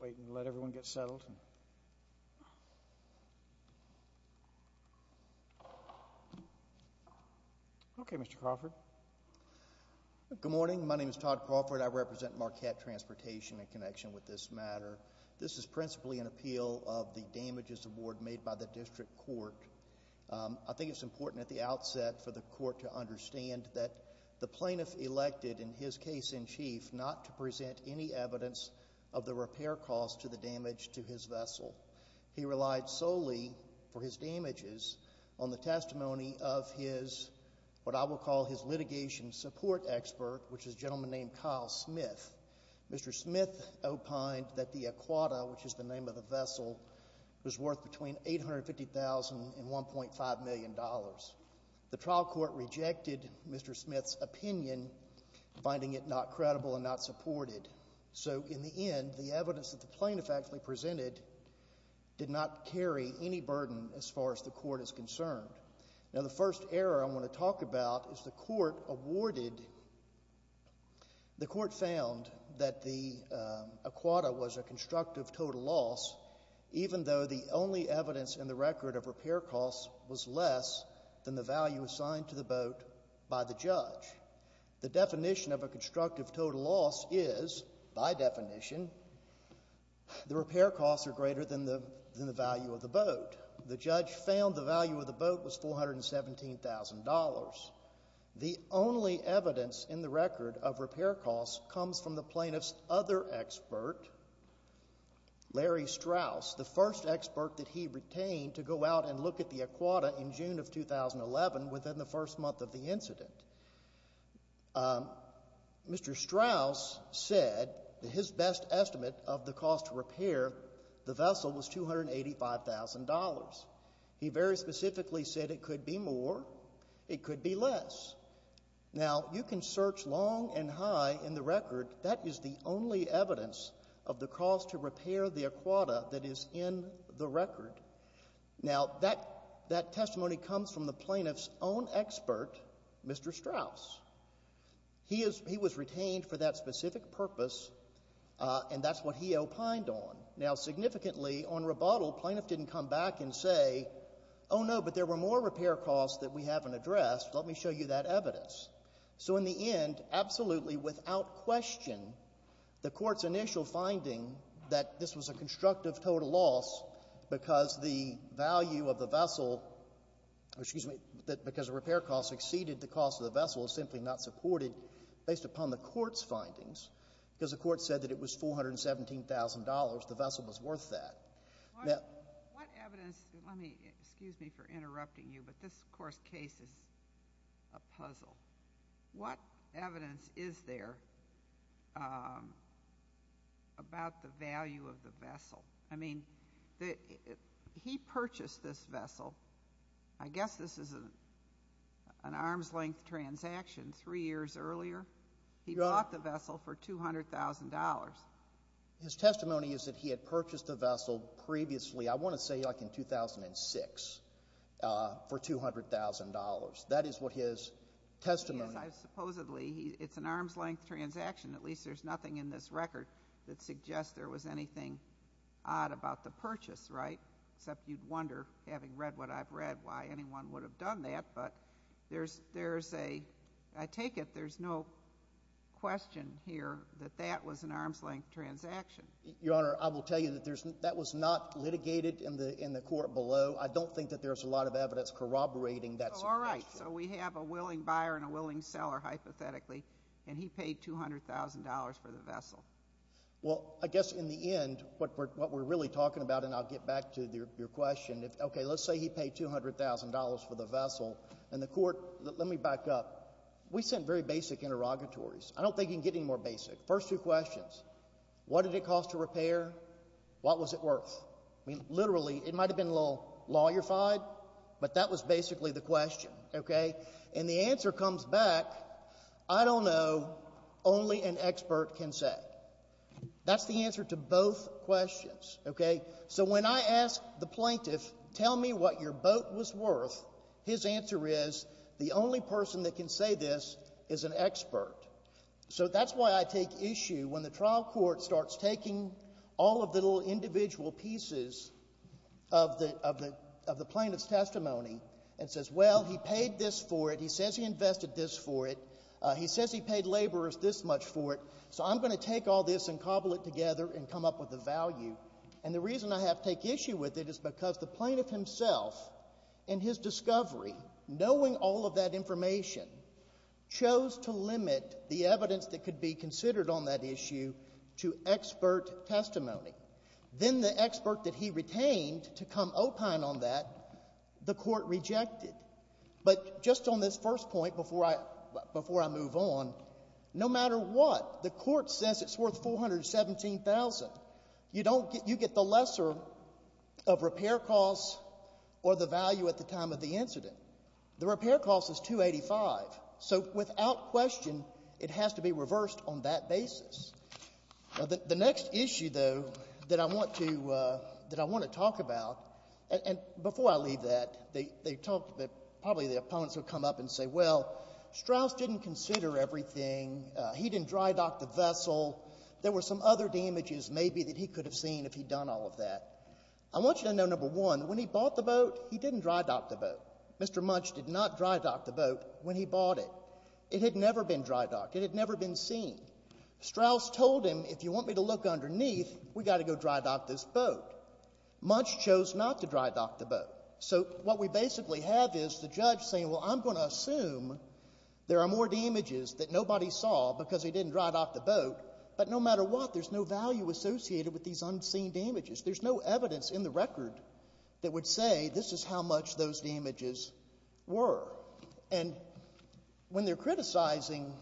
Wait and let everyone get settled. Good morning, my name is Todd Crawford, I represent Marquette Transportation in connection with this matter. This is principally an appeal of the damages award made by the district court. I think it's important at the outset for the court to understand that the plaintiff elected in his case in chief not to present any evidence of the repair cost to the damage to his property. He relied solely for his damages on the testimony of his, what I will call his litigation support expert, which is a gentleman named Kyle Smith. Mr. Smith opined that the Aquata, which is the name of the vessel, was worth between $850,000 and $1.5 million. The trial court rejected Mr. Smith's opinion, finding it not credible and not supported. So in the end, the evidence that the plaintiff actually presented did not carry any burden as far as the court is concerned. Now the first error I want to talk about is the court awarded, the court found that the Aquata was a constructive total loss, even though the only evidence in the record of repair costs was less than the value assigned to the boat by the judge. The definition of a constructive total loss is, by definition, the repair costs are greater than the value of the boat. The judge found the value of the boat was $417,000. The only evidence in the record of repair costs comes from the plaintiff's other expert, Larry Strauss, the first expert that he retained to go out and look at the Aquata in June of the incident. Mr. Strauss said that his best estimate of the cost to repair the vessel was $285,000. He very specifically said it could be more, it could be less. Now you can search long and high in the record, that is the only evidence of the cost to repair the Aquata that is in the record. Now that testimony comes from the plaintiff's own expert, Mr. Strauss. He was retained for that specific purpose, and that's what he opined on. Now significantly, on rebuttal, plaintiff didn't come back and say, oh, no, but there were more repair costs that we haven't addressed, let me show you that evidence. So in the end, absolutely without question, the Court's initial finding that this was a constructive total loss because the value of the vessel, excuse me, because the repair costs exceeded the cost of the vessel is simply not supported based upon the Court's findings because the Court said that it was $417,000, the vessel was worth that. What evidence, excuse me for interrupting you, but this, of course, case is a puzzle. What evidence is there about the value of the vessel? I mean, he purchased this vessel, I guess this is an arm's length transaction three years earlier. He bought the vessel for $200,000. His testimony is that he had purchased the vessel previously, I want to say like in 2006, for $200,000. That is what his testimony is. Supposedly, it's an arm's length transaction, at least there's nothing in this record that suggests there was anything odd about the purchase, right, except you'd wonder, having read what I've read, why anyone would have done that, but there's a, I take it there's no question here that that was an arm's length transaction. Your Honor, I will tell you that that was not litigated in the Court below. I don't think that there's a lot of evidence corroborating that. All right. So we have a willing buyer and a willing seller, hypothetically, and he paid $200,000 for the vessel. Well, I guess in the end, what we're really talking about, and I'll get back to your question, okay, let's say he paid $200,000 for the vessel, and the Court, let me back up, we sent very basic interrogatories. I don't think you can get any more basic. What was it worth? I mean, literally, it might have been a little lawyer-fied, but that was basically the question, okay? And the answer comes back, I don't know, only an expert can say. That's the answer to both questions, okay? So when I ask the plaintiff, tell me what your boat was worth, his answer is, the only person that can say this is an expert. So that's why I take issue when the trial court starts taking all of the little individual pieces of the plaintiff's testimony and says, well, he paid this for it, he says he invested this for it, he says he paid laborers this much for it, so I'm going to take all this and cobble it together and come up with a value. And the reason I have to take issue with it is because the plaintiff himself, in his discovery, knowing all of that information, chose to limit the evidence that could be considered on that issue to expert testimony. Then the expert that he retained to come opine on that, the court rejected. But just on this first point, before I move on, no matter what, the court says it's worth $417,000. You get the lesser of repair costs or the value at the time of the incident. The repair cost is $285,000. So without question, it has to be reversed on that basis. The next issue, though, that I want to talk about, and before I leave that, probably the opponents will come up and say, well, Strauss didn't consider everything, he didn't dry dock the vessel. There were some other damages maybe that he could have seen if he'd done all of that. I want you to know, number one, when he bought the boat, he didn't dry dock the boat. Mr. Munch did not dry dock the boat when he bought it. It had never been dry docked. It had never been seen. Strauss told him, if you want me to look underneath, we've got to go dry dock this boat. Munch chose not to dry dock the boat. So what we basically have is the judge saying, well, I'm going to assume there are more damages than just dry docking the boat, but no matter what, there's no value associated with these unseen damages. There's no evidence in the record that would say this is how much those damages were. And when they're criticizing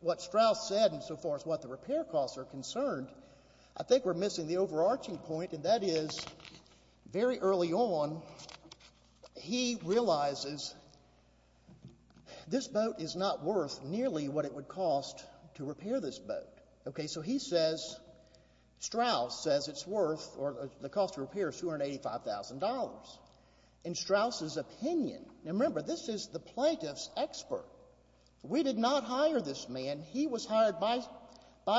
what Strauss said insofar as what the repair costs are concerned, I think we're missing the overarching point, and that is, very early on, he realizes this boat is not worth nearly what it would cost to repair this boat. Okay, so he says, Strauss says it's worth, or the cost of repair is $285,000. In Strauss's opinion, now remember, this is the plaintiff's expert. We did not hire this man. He was hired by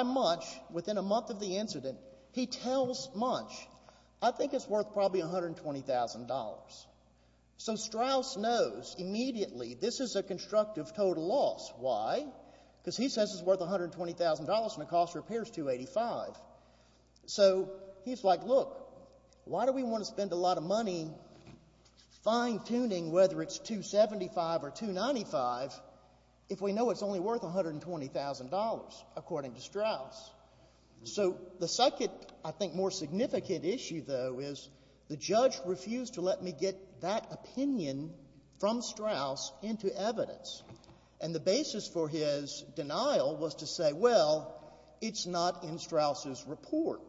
Munch within a month of the incident. He tells Munch, I think it's worth probably $120,000. So Strauss knows immediately this is a constructive total loss. Why? Because he says it's worth $120,000 and the cost of repair is $285,000. So he's like, look, why do we want to spend a lot of money fine-tuning whether it's $275,000 or $295,000 if we know it's only worth $120,000, according to Strauss? So the second, I think, more significant issue, though, is the judge refused to let me get that opinion from Strauss into evidence. And the basis for his denial was to say, well, it's not in Strauss's report.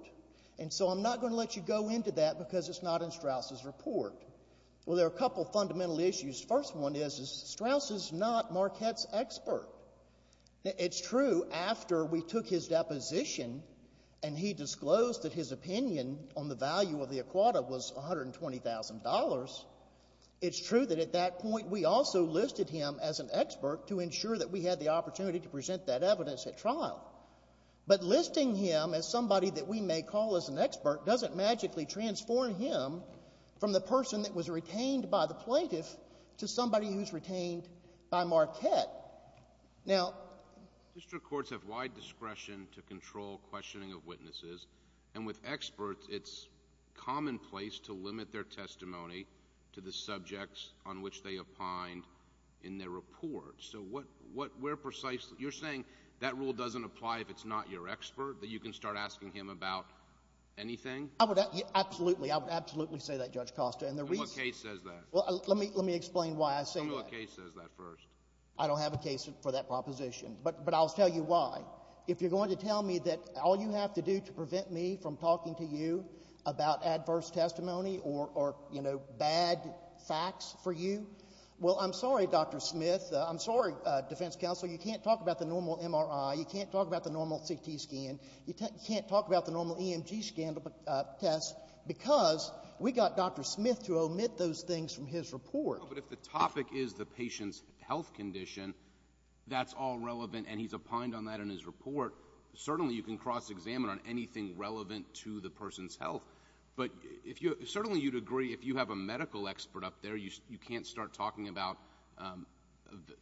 And so I'm not going to let you go into that because it's not in Strauss's report. Well, there are a couple of fundamental issues. The first one is, is Strauss is not Marquette's expert. It's true after we took his deposition and he disclosed that his opinion on the value of the Aquata was $120,000, it's true that at that point we also listed him as an expert to ensure that we had the opportunity to present that evidence at trial. But listing him as somebody that we may call as an expert doesn't magically transform him from the person that was retained by the plaintiff to somebody who's retained by Marquette. Now district courts have wide discretion to control questioning of witnesses. And with experts, it's commonplace to limit their testimony to the subjects on which they report. So what, where precisely, you're saying that rule doesn't apply if it's not your expert, that you can start asking him about anything? I would, absolutely, I would absolutely say that, Judge Costa. And the reason— And what case says that? Well, let me explain why I say that. Tell me what case says that first. I don't have a case for that proposition. But I'll tell you why. If you're going to tell me that all you have to do to prevent me from talking to you about this, I'm sorry, defense counsel, you can't talk about the normal MRI, you can't talk about the normal CT scan, you can't talk about the normal EMG scan test, because we got Dr. Smith to omit those things from his report. No, but if the topic is the patient's health condition, that's all relevant and he's opined on that in his report. Certainly you can cross-examine on anything relevant to the person's health. But if you, certainly you'd agree if you have a medical expert up there, you can't start talking about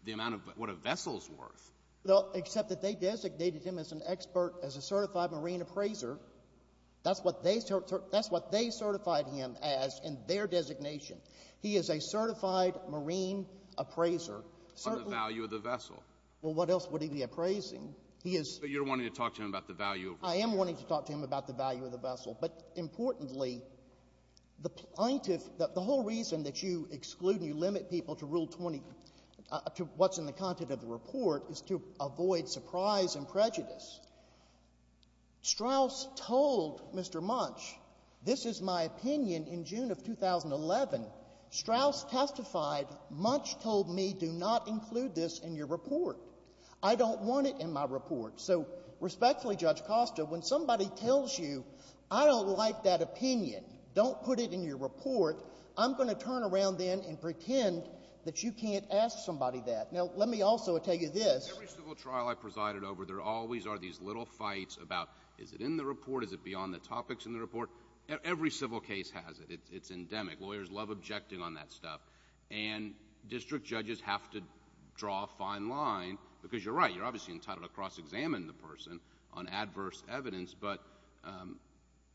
the amount of what a vessel's worth. Well, except that they designated him as an expert, as a certified marine appraiser. That's what they certified him as in their designation. He is a certified marine appraiser. For the value of the vessel. Well, what else would he be appraising? He is— But you're wanting to talk to him about the value of— I am wanting to talk to him about the value of the vessel. But importantly, the plaintiff — the whole reason that you exclude and you limit people to Rule 20 — to what's in the content of the report is to avoid surprise and prejudice. Strauss told Mr. Munch, this is my opinion in June of 2011. Strauss testified, Munch told me, do not include this in your report. I don't want it in my report. So respectfully, Judge Costa, when somebody tells you, I don't like that opinion, don't put it in your report, I'm going to turn around then and pretend that you can't ask somebody that. Now, let me also tell you this— Every civil trial I presided over, there always are these little fights about, is it in the report? Is it beyond the topics in the report? Every civil case has it. It's endemic. Lawyers love objecting on that stuff. And district judges have to draw a fine line because you're right, you're entitled to cross-examine the person on adverse evidence. But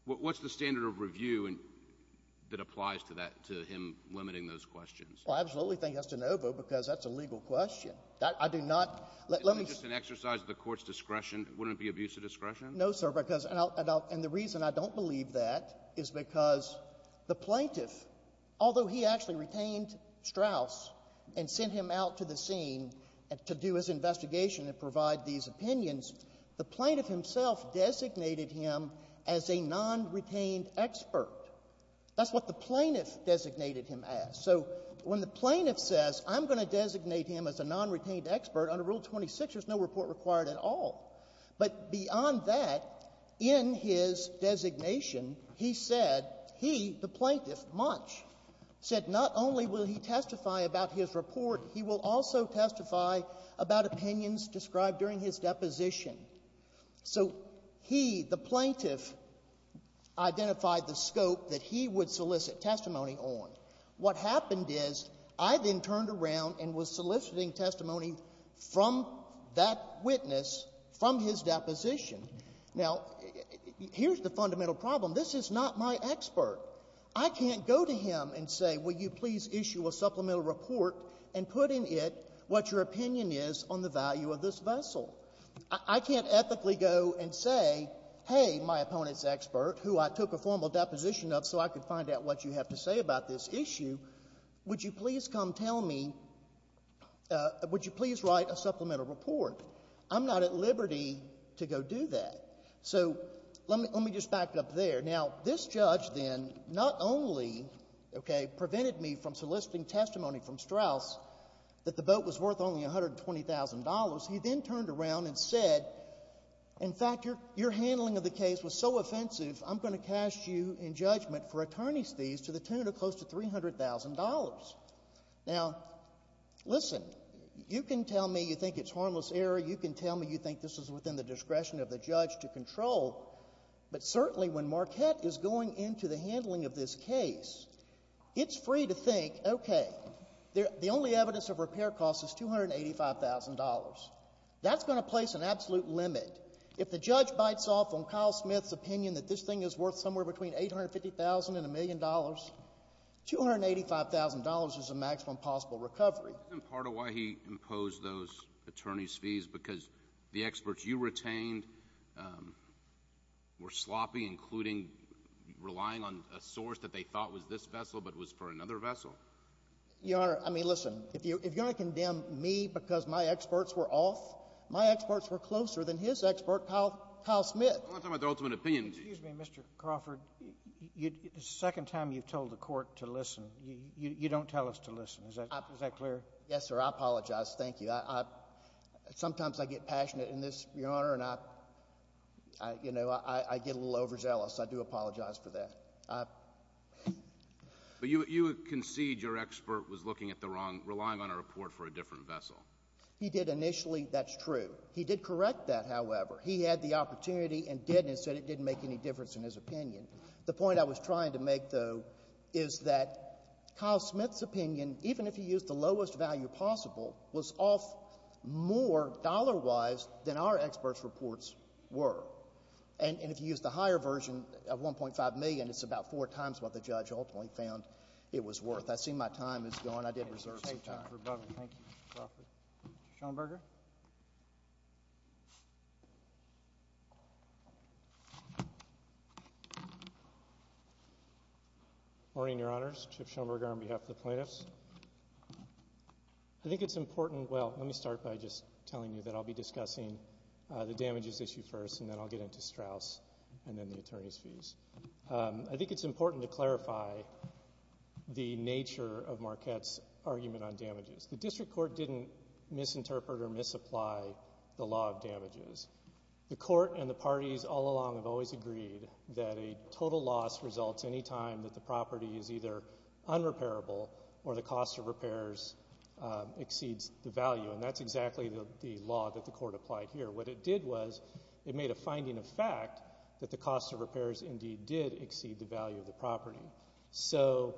what's the standard of review that applies to him limiting those questions? Well, I absolutely think that's de novo because that's a legal question. I do not— Isn't it just an exercise of the Court's discretion? Wouldn't it be abuse of discretion? No, sir, because — and the reason I don't believe that is because the plaintiff, although he actually retained Strauss and sent him out to the scene to do his investigation and provide these opinions, the plaintiff himself designated him as a non-retained expert. That's what the plaintiff designated him as. So when the plaintiff says, I'm going to designate him as a non-retained expert under Rule 26, there's no report required at all. But beyond that, in his designation, he said, he, the plaintiff, Munch, said not only will he testify about his report, he will also testify about opinions described during his deposition. So he, the plaintiff, identified the scope that he would solicit testimony on. What happened is I then turned around and was soliciting testimony from that witness from his deposition. Now, here's the fundamental problem. This is not my expert. I can't go to him and say, will you please issue a supplemental report and put in it what your opinion is on the value of this vessel. I can't ethically go and say, hey, my opponent's expert, who I took a formal deposition of so I could find out what you have to say about this issue, would you please come tell me — would you please write a supplemental report? I'm not at liberty to go do that. So let me — let me just back up there. Now, this judge then not only, okay, prevented me from soliciting testimony from Straus that the boat was worth only $120,000, he then turned around and said, in fact, your handling of the case was so offensive, I'm going to cast you in judgment for attorney's fees to the tune of close to $300,000. Now, listen, you can tell me you think it's harmless error. You can tell me you think this is within the discretion of the judge to control. But certainly when Marquette is going into the handling of this case, it's free to think, okay, the only evidence of repair costs is $285,000. That's going to place an absolute limit. If the judge bites off on Kyle Smith's opinion that this thing is worth somewhere between $850,000 and $1 million, $285,000 is the maximum possible recovery. Isn't that part of why he imposed those attorney's fees? Because the experts you retained were sloppy, including relying on a source that they thought was this vessel but was for another vessel? Your Honor, I mean, listen, if you're going to condemn me because my experts were off, my experts were closer than his expert, Kyle — Kyle Smith. I'm not talking about the ultimate opinion. Excuse me, Mr. Crawford, the second time you've told the court to listen, you don't tell us to listen. Is that clear? Yes, sir. I apologize. Thank you. Sometimes I get passionate in this, Your Honor, and I, you know, I get a little overzealous. I do apologize for that. But you concede your expert was looking at the wrong — relying on a report for a different vessel. He did initially. That's true. He did correct that, however. He had the opportunity and did, and said it didn't make any difference in his opinion. The point I was trying to make, though, is that Kyle Smith's opinion, even if he used the lowest value possible, was off more dollar-wise than our experts' reports were. And if you use the higher version of $1.5 million, it's about four times what the judge ultimately found it was worth. I see my time is gone. I did reserve some time. Thank you, Mr. Crawford. Thank you, Mr. Crawford. Good morning, Your Honors, Chip Schomberger on behalf of the plaintiffs. I think it's important — well, let me start by just telling you that I'll be discussing the damages issue first, and then I'll get into Straus and then the attorney's fees. I think it's important to clarify the nature of Marquette's argument on damages. The district court didn't misinterpret or misapply the law of damages. The court and the parties all along have always agreed that a total loss results anytime that the property is either unrepairable or the cost of repairs exceeds the value, and that's exactly the law that the court applied here. What it did was it made a finding of fact that the cost of repairs indeed did exceed the value of the property. So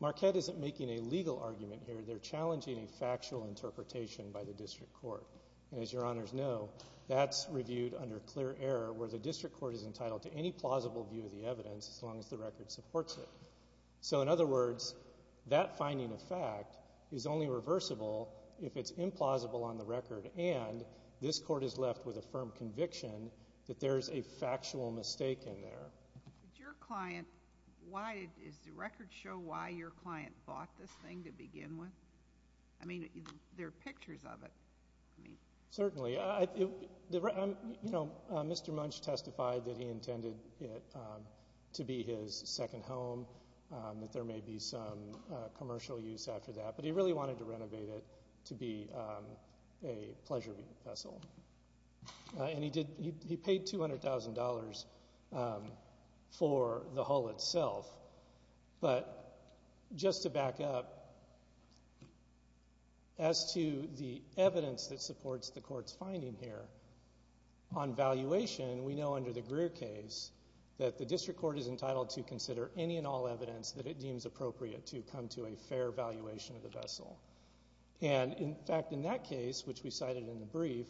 Marquette isn't making a legal argument here. They're challenging a factual interpretation by the district court. And as Your Honors know, that's reviewed under clear error where the district court is entitled to any plausible view of the evidence as long as the record supports it. So in other words, that finding of fact is only reversible if it's implausible on the record and this court is left with a firm conviction that there's a factual mistake in there. Did your client, why, does the record show why your client bought this thing to begin with? I mean, there are pictures of it. Certainly. You know, Mr. Munch testified that he intended it to be his second home, that there may be some commercial use after that, but he really wanted to renovate it to be a pleasure vessel. And he did, he paid $200,000 for the hull itself. But just to back up, as to the evidence that supports the court's finding here, on valuation, we know under the Greer case that the district court is entitled to consider any and all evidence that it deems appropriate to come to a fair valuation of the vessel. And, in fact, in that case, which we cited in the brief,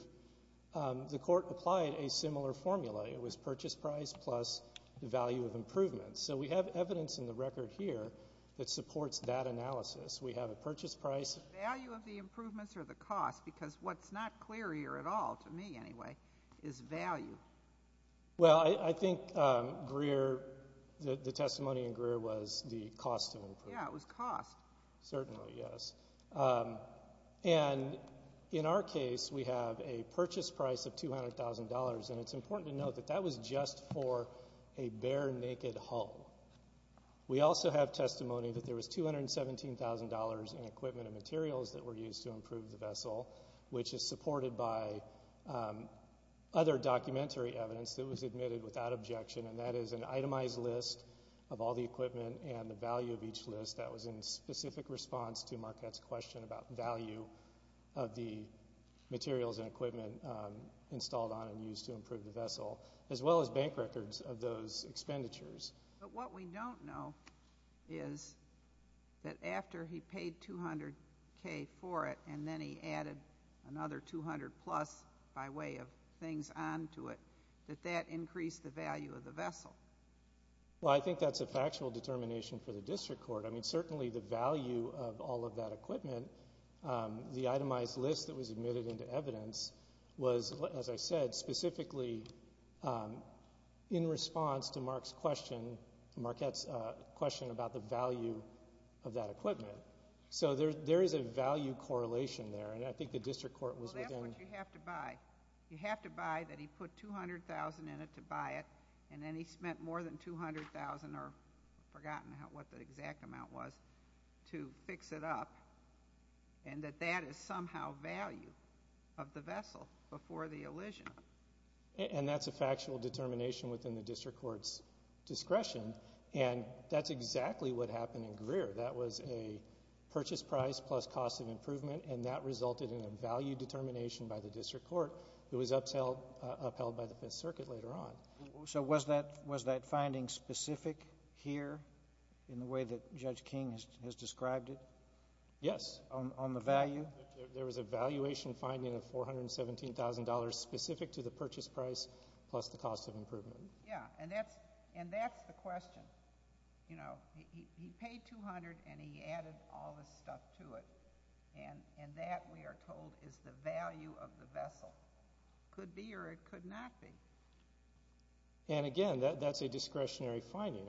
the court applied a similar formula. It was purchase price plus the value of improvements. So we have evidence in the record here that supports that analysis. We have a purchase price. Is it the value of the improvements or the cost? Because what's not clear here at all, to me anyway, is value. Well, I think Greer, the testimony in Greer was the cost of improvement. Yeah, it was cost. Certainly, yes. And, in our case, we have a purchase price of $200,000, and it's important to note that that was just for a bare naked hull. We also have testimony that there was $217,000 in equipment and materials that were used to improve the vessel, which is supported by other documentary evidence that was admitted without objection, and that is an itemized list of all the equipment and the value of each list. That was in specific response to Marquette's question about value of the materials and equipment installed on and used to improve the vessel, as well as bank records of those expenditures. But what we don't know is that after he paid $200,000 for it, and then he added another $200,000 plus by way of things onto it, that that increased the value of the vessel. Well, I think that's a factual determination for the district court. I mean, certainly the value of all of that equipment, the itemized list that was admitted into evidence was, as I said, specifically in response to Marquette's question about the value of that equipment. So there is a value correlation there, and I think the district court was within... Well, that's what you have to buy. You have to buy that he put $200,000 in it to buy it, and then he spent more than $200,000 or I've forgotten what the exact amount was, to fix it up, and that that is somehow value of the vessel before the elision. And that's a factual determination within the district court's discretion, and that's exactly what happened in Greer. That was a purchase price plus cost of improvement, and that resulted in a value determination by the district court. It was upheld by the Fifth Circuit later on. So was that finding specific here in the way that Judge King has described it? Yes. On the value? There was a valuation finding of $417,000 specific to the purchase price plus the cost of improvement. Yeah, and that's the question. You know, he paid $200,000 and he added all this stuff to it, and that, we are told, is the value of the vessel. Could be or it could not be. And again, that's a discretionary finding.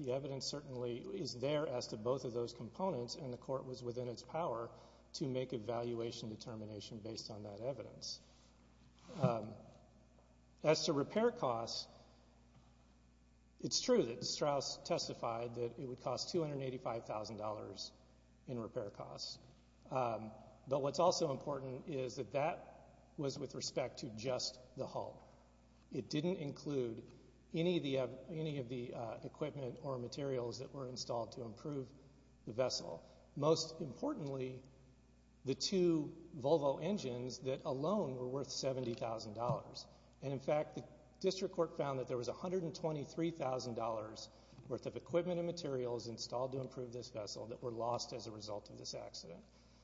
The evidence certainly is there as to both of those components, and the court was within its power to make a valuation determination based on that evidence. As to repair costs, it's true that Strauss testified that it would cost $285,000 in repair costs, but what's also important is that that was with respect to just the hull. It didn't include any of the equipment or materials that were installed to improve the vessel. Most importantly, the two Volvo engines that alone were worth $70,000, and in fact the district court found that there was $123,000 worth of equipment and materials installed to improve this vessel that were lost as a result of this accident.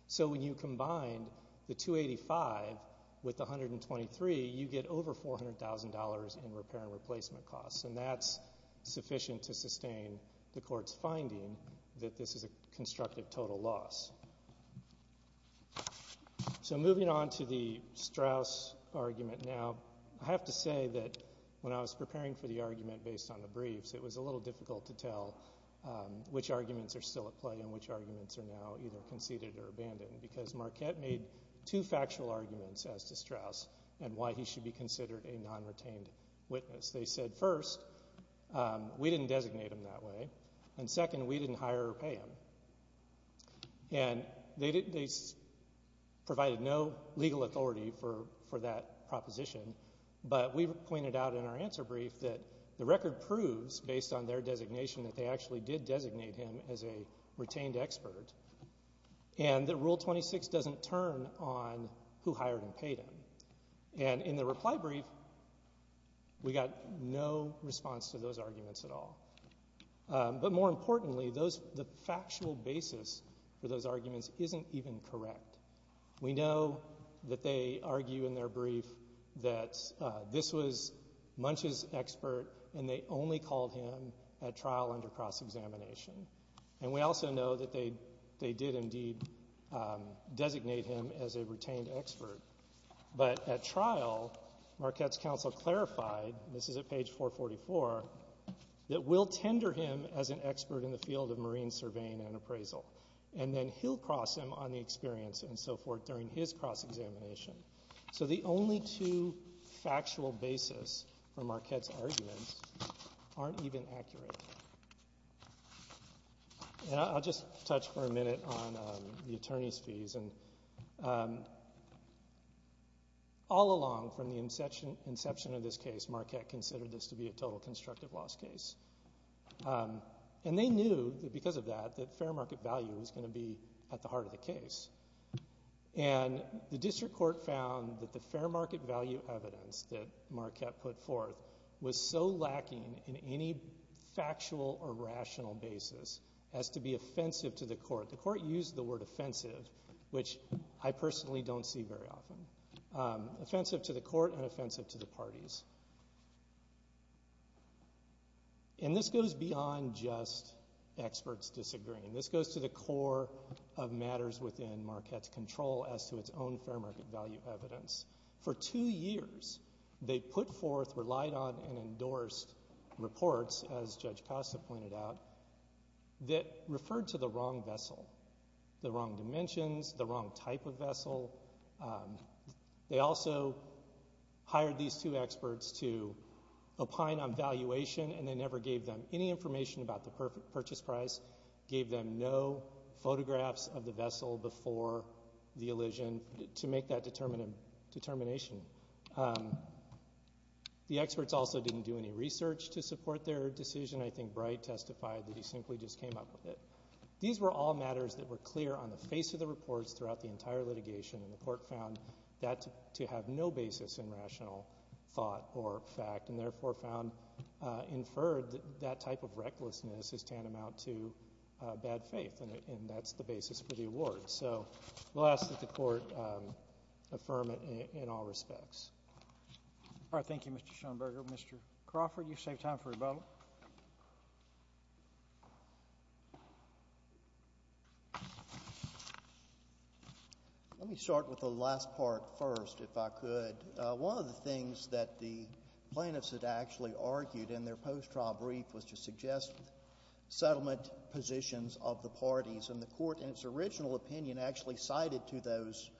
So when you combine the $285,000 with the $123,000, you get over $400,000 in repair and replacement costs, and that's sufficient to sustain the court's finding that this is a constructive total loss. So moving on to the Strauss argument now, I have to say that when I was preparing for the argument based on the briefs, it was a little difficult to tell which arguments are still at play and which arguments are now either conceded or abandoned because Marquette made two factual arguments as to Strauss and why he should be considered a non-retained witness. They said first, we didn't designate him that way, and second, we didn't hire or pay him, and they provided no legal authority for that proposition, but we pointed out in our answer brief that the record proves, based on their designation, that they actually did designate him as a retained expert, and that Rule 26 doesn't turn on who hired and paid him. And in the reply brief, we got no response to those arguments at all. But more importantly, the factual basis for those arguments isn't even correct. We know that they argue in their brief that this was Munch's expert, and they only called him at trial under cross-examination. And we also know that they did indeed designate him as a retained expert. But at trial, Marquette's counsel clarified, and this is at page 444, that we'll tender him as an expert in the field of marine surveying and appraisal, and then he'll cross him on the experience, and so forth, during his cross-examination. So the only two factual basis for Marquette's arguments aren't even accurate. And I'll just touch for a minute on the attorney's fees, and all along from the inception of this case, Marquette considered this to be a total constructive loss case. And they knew that because of that, that fair market value was going to be at the heart of the case. And the district court found that the fair market value evidence that Marquette put forth was so lacking in any factual or rational basis as to be offensive to the court. The court used the word offensive, which I personally don't see very often. Offensive to the court and offensive to the parties. And this goes beyond just experts disagreeing. This goes to the core of matters within Marquette's control as to its own fair market value evidence. For two years, they put forth, relied on, and endorsed reports, as Judge Costa pointed out, that referred to the wrong vessel, the wrong dimensions, the wrong type of vessel. They also hired these two experts to opine on valuation, and they never gave them any information about the purchase price, gave them no photographs of the vessel before the elision to make that determination. The experts also didn't do any research to support their decision. I think Bright testified that he simply just came up with it. These were all matters that were clear on the face of the reports throughout the entire litigation, and the court found that to have no basis in rational thought or fact and therefore found inferred that that type of recklessness is tantamount to bad faith, and that's the basis for the award. So we'll ask that the court affirm it in all respects. All right. Thank you, Mr. Schoenberger. Mr. Crawford, you've saved time for rebuttal. Let me start with the last part first, if I could. One of the things that the plaintiffs had actually argued in their post-trial brief was to suggest settlement positions of the parties, and the court in its original opinion actually cited to those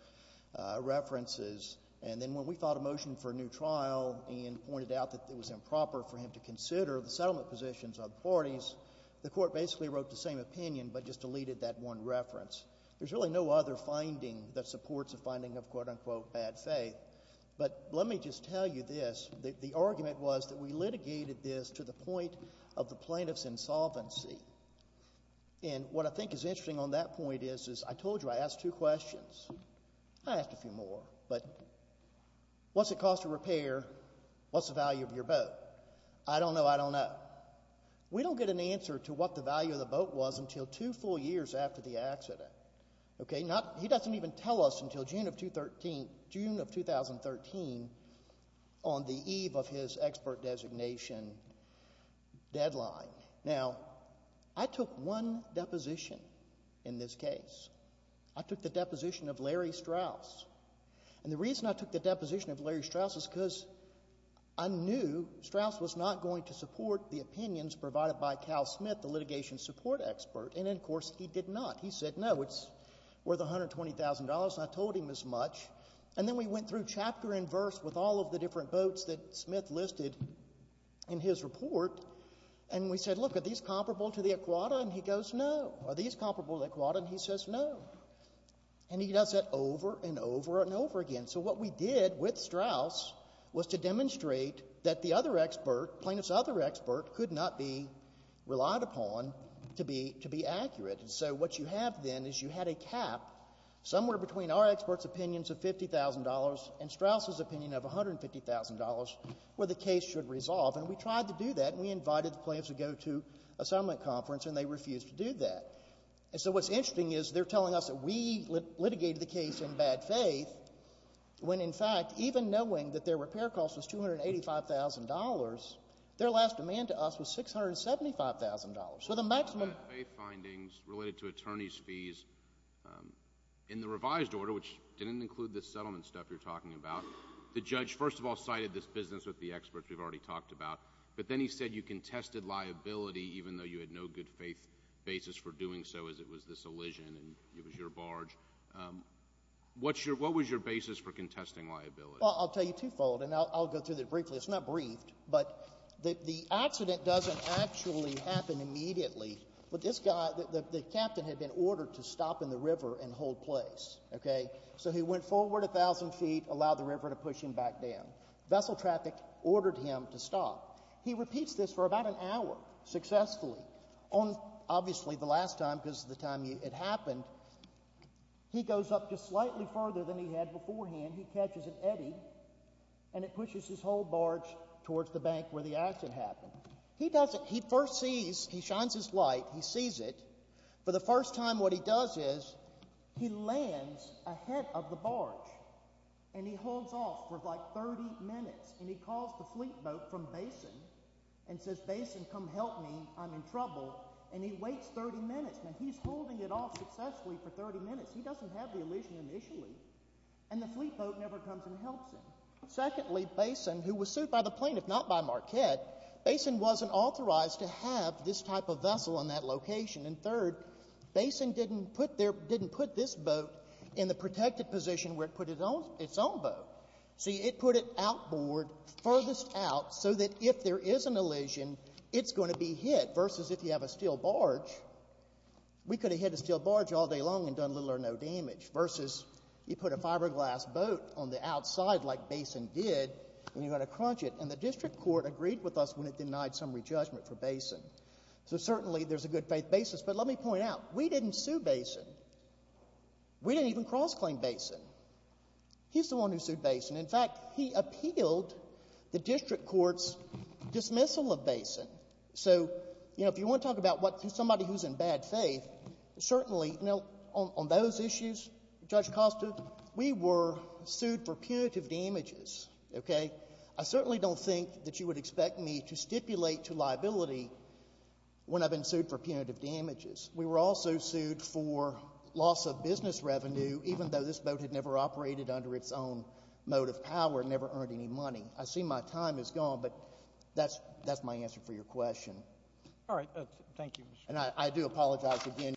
references. And then when we filed a motion for a new trial and pointed out that it was improper for him to consider the settlement positions of the parties, the court basically wrote the same opinion but just deleted that one reference. There's really no other finding that supports a finding of, quote-unquote, bad faith. But let me just tell you this. The argument was that we litigated this to the point of the plaintiff's insolvency. And what I think is interesting on that point is, is I told you I asked two questions. I asked a few more, but what's the cost of repair? What's the value of your boat? I don't know. I don't know. We don't get an answer to what the value of the boat was until two full years after the accident. Okay? He doesn't even tell us until June of 2013, June of 2013, on the eve of his expert designation deadline. Now, I took one deposition in this case. I took the deposition of Larry Strauss. And the reason I took the deposition of Larry Strauss is because I knew Strauss was not going to support the opinions provided by Cal Smith, the litigation support expert. And, of course, he did not. He said, no, it's worth $120,000, and I told him as much. And then we went through chapter and verse with all of the different boats that Smith listed in his report, and we said, look, are these comparable to the Iguana? And he goes, no. Are these comparable to the Iguana? And he says, no. And he does that over and over and over again. So what we did with Strauss was to demonstrate that the other expert, plaintiff's other expert, could not be relied upon to be accurate. So what you have, then, is you had a cap somewhere between our expert's opinions of $50,000 and Strauss's opinion of $150,000, where the case should resolve. And we tried to do that, and we invited the plaintiffs to go to a summit conference, and they refused to do that. And so what's interesting is, they're telling us that we litigated the case in bad faith, when in fact, even knowing that their repair cost was $285,000, their last demand to us was $675,000. So the maximum... ...bad faith findings related to attorney's fees in the revised order, which didn't include this settlement stuff you're talking about, the judge, first of all, cited this business with the experts we've already talked about, but then he said you contested liability even though you had no good faith basis for doing so, as it was this elision, and it was your barge. What's your — what was your basis for contesting liability? Well, I'll tell you twofold, and I'll go through that briefly. It's not briefed, but the accident doesn't actually happen immediately, but this guy — the captain had been ordered to stop in the river and hold place, okay? So he went forward 1,000 feet, allowed the river to push him back down. Vessel traffic ordered him to stop. He repeats this for about an hour, successfully, on — obviously, the last time, because of the time it happened. He goes up just slightly further than he had beforehand, he catches an eddy, and it pushes his whole barge towards the bank where the accident happened. He does it — he first sees — he shines his light, he sees it. For the first time, what he does is he lands ahead of the barge, and he holds off for like 30 minutes. And he calls the fleet boat from Basin and says, Basin, come help me, I'm in trouble. And he waits 30 minutes. Now, he's holding it off successfully for 30 minutes. He doesn't have the elision initially. And the fleet boat never comes and helps him. Secondly, Basin, who was sued by the plaintiff, not by Marquette, Basin wasn't authorized to have this type of vessel in that location. And third, Basin didn't put their — didn't put this boat in the protected position where it put its own boat. See, it put it outboard, furthest out, so that if there is an elision, it's going to be hit, versus if you have a steel barge. We could have hit a steel barge all day long and done little or no damage, versus you put a fiberglass boat on the outside like Basin did, and you're going to crunch it. And the district court agreed with us when it denied summary judgment for Basin. So certainly there's a good-faith basis. But let me point out, we didn't sue Basin. We didn't even cross-claim Basin. He's the one who sued Basin. In fact, he appealed the district court's dismissal of Basin. So, you know, if you want to talk about what — somebody who's in bad faith, certainly — you know, on those issues, Judge Costa, we were sued for punitive damages, okay? I certainly don't think that you would expect me to stipulate to liability when I've been sued for punitive damages. We were also sued for loss of business revenue, even though this boat had never operated under its own mode of power and never earned any money. I see my time is gone, but that's my answer for your question. All right. Thank you, Mr. Chairman. And I do apologize again.